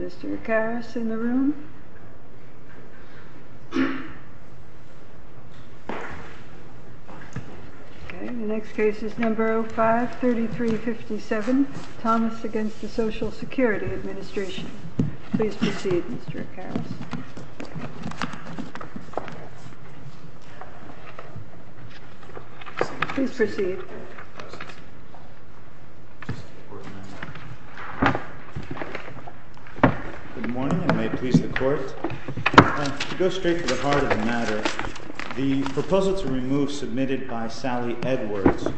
Mr. Karas in the room. The next case is number 05-3357, Thomas against the Social Security Administration. Please proceed, Mr. Karas. Please proceed. Good morning, and may it please the Court. To go straight to the heart of the matter, the proposal to remove submitted by Sally Edwards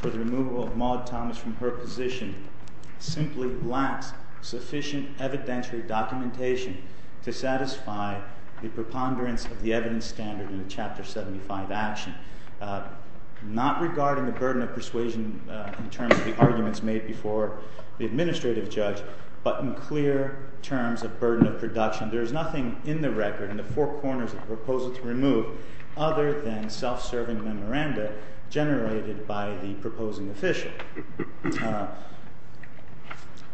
for the removal of Maude Thomas from her position simply lacks sufficient evidentiary documentation to satisfy the preponderance of the evidence standard in the Chapter 75 action, not regarding the burden of persuasion in terms of the arguments made before the administrative judge, but in clear terms of burden of production. There is nothing in the record in the four corners of the proposal to remove other than self-serving memoranda generated by the proposing official.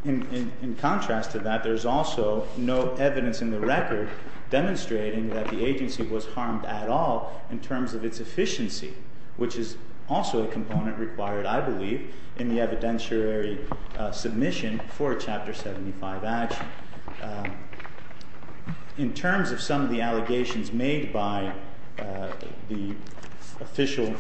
In contrast to that, there's also no evidence in the record demonstrating that the agency was harmed at all in terms of its efficiency, which is also a component required, I believe, in the evidentiary submission for a Chapter 75 action. In terms of some of the allegations made by the official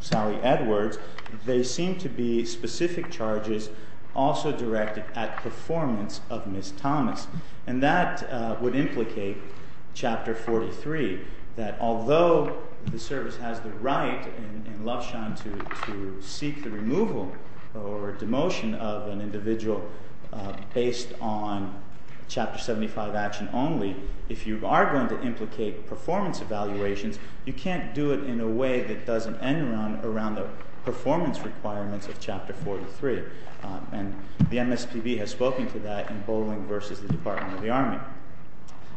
Sally Edwards, they seem to be specific charges also directed at performance of Ms. Thomas, and that would implicate Chapter 43, that although the service has the right in Lufshan to seek the removal or demotion of an individual based on Chapter 75, action only, if you are going to implicate performance evaluations, you can't do it in a way that doesn't end around the performance requirements of Chapter 43, and the MSPB has spoken to that in Bolling versus the Department of the Army.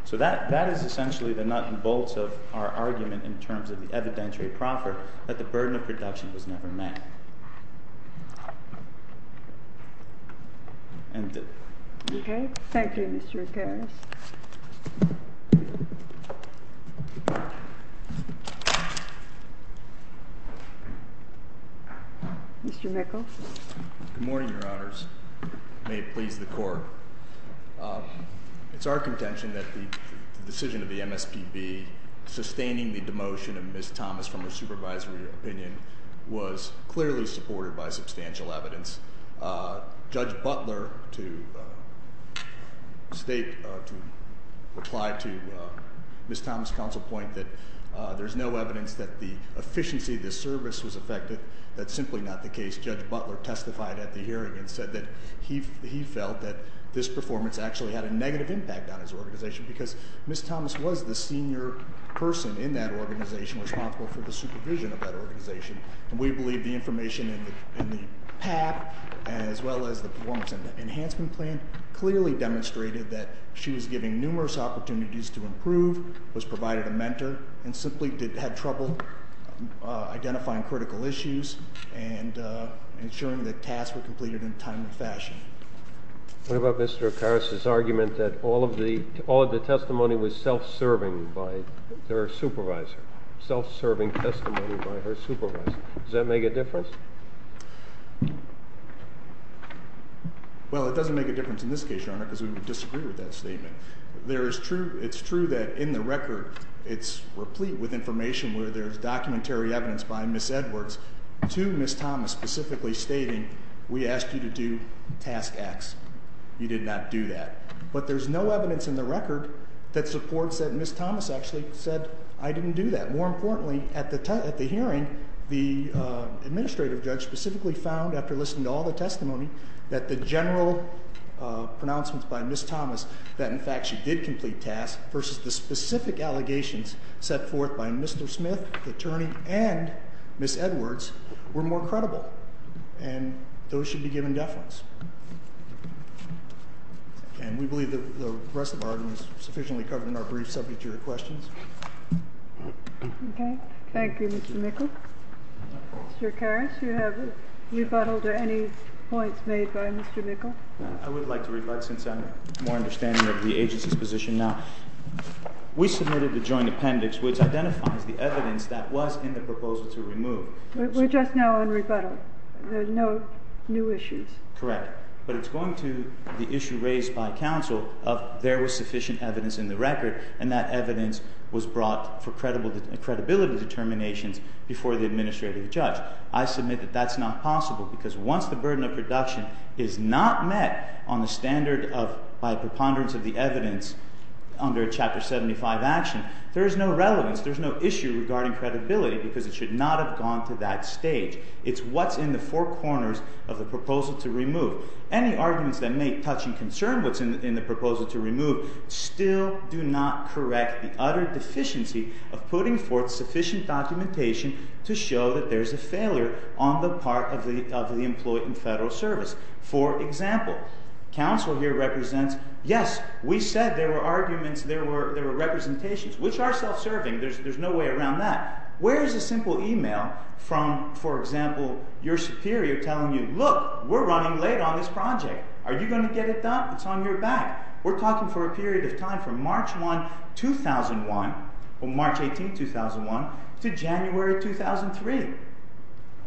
So that is essentially the nut and bolts of our argument in terms of the evidentiary proffer that the burden of production was never met. And thank you, Mr. Mr. Mickel. Good morning, Your Honors. May it please the court. It's our contention that the decision of the MSPB sustaining the demotion of Ms. Thomas from a supervisory opinion was clearly a misdemeanor. It was clearly supported by substantial evidence. Judge Butler, to state, to reply to Ms. Thomas' counsel point that there's no evidence that the efficiency of this service was affected. That's simply not the case. Judge Butler testified at the hearing and said that he felt that this performance actually had a negative impact on his organization because Ms. Thomas was the senior person in that organization responsible for the supervision of that organization. And we believe the information in the PAP, as well as the performance enhancement plan, clearly demonstrated that she was given numerous opportunities to improve, was provided a mentor, and simply had trouble identifying critical issues and ensuring that tasks were completed in a timely fashion. What about Mr. Akaris' argument that all of the testimony was self-serving by their supervisor? Self-serving testimony by her supervisor. Does that make a difference? Well, it doesn't make a difference in this case, Your Honor, because we would disagree with that statement. It's true that in the record, it's replete with information where there's documentary evidence by Ms. Edwards to Ms. Thomas specifically stating, we asked you to do task X. You did not do that. But there's no evidence in the record that supports that Ms. Thomas actually said, I didn't do that. And more importantly, at the hearing, the administrative judge specifically found, after listening to all the testimony, that the general pronouncements by Ms. Thomas, that in fact she did complete tasks, versus the specific allegations set forth by Mr. Smith, the attorney, and Ms. Edwards, were more credible. And those should be given deference. And we believe the rest of our argument is sufficiently covered in our brief subject to your questions. Okay. Thank you, Mr. Mr. Karras, do you have a rebuttal to any points made by Mr. Mikkel? I would like to rebut since I'm more understanding of the agency's position now. We submitted the joint appendix, which identifies the evidence that was in the proposal to remove. We're just now on rebuttal. There's no new issues. Correct. But it's going to the issue raised by counsel of there was sufficient evidence in the record, and that evidence was brought for credibility determinations before the administrative judge. I submit that that's not possible, because once the burden of production is not met on the standard of, by a preponderance of the evidence under Chapter 75 action, there is no relevance. There's no issue regarding credibility, because it should not have gone to that stage. It's what's in the four corners of the proposal to remove. Any arguments that may touch and concern what's in the proposal to remove still do not correct the utter deficiency of putting forth sufficient documentation to show that there's a failure on the part of the employee in federal service. For example, counsel here represents, yes, we said there were arguments, there were representations, which are self-serving. There's no way around that. Where is a simple email from, for example, your superior telling you, look, we're running late on this project. Are you going to get it done? It's on your back. We're talking for a period of time from March 1, 2001, or March 18, 2001, to January 2003.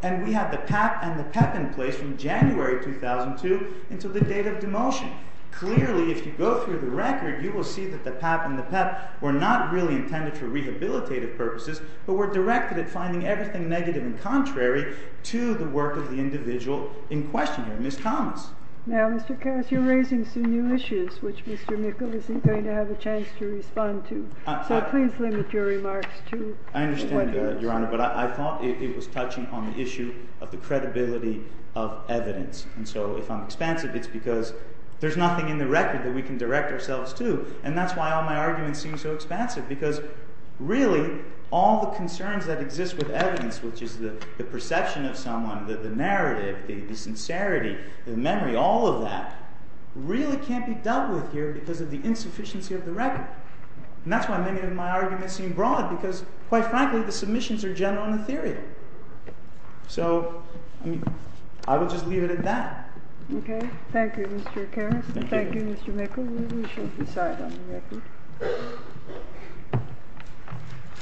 And we had the PAP and the PEP in place from January 2002 until the date of demotion. Clearly, if you go through the record, you will see that the PAP and the PEP were not really intended for rehabilitative purposes, but were directed at finding everything negative and contrary to the work of the individual in question here. Ms. Thomas. Now, Mr. Cass, you're raising some new issues, which Mr. Mickel isn't going to have a chance to respond to. So please limit your remarks to 20 minutes. I understand, Your Honor. But I thought it was touching on the issue of the credibility of evidence. And so if I'm expansive, it's because there's nothing in the record that we can direct ourselves to. And that's why all my arguments seem so expansive, because really, all the concerns that exist with evidence, which is the perception of someone, the narrative, the sincerity, the memory, all of that, really can't be dealt with here because of the insufficiency of the record. And that's why many of my arguments seem broad, because quite frankly, the submissions are general in the theory. So I will just leave it at that. Okay. Thank you, Mr. Karras. Thank you, Mr. Mickel. We shall decide on the record.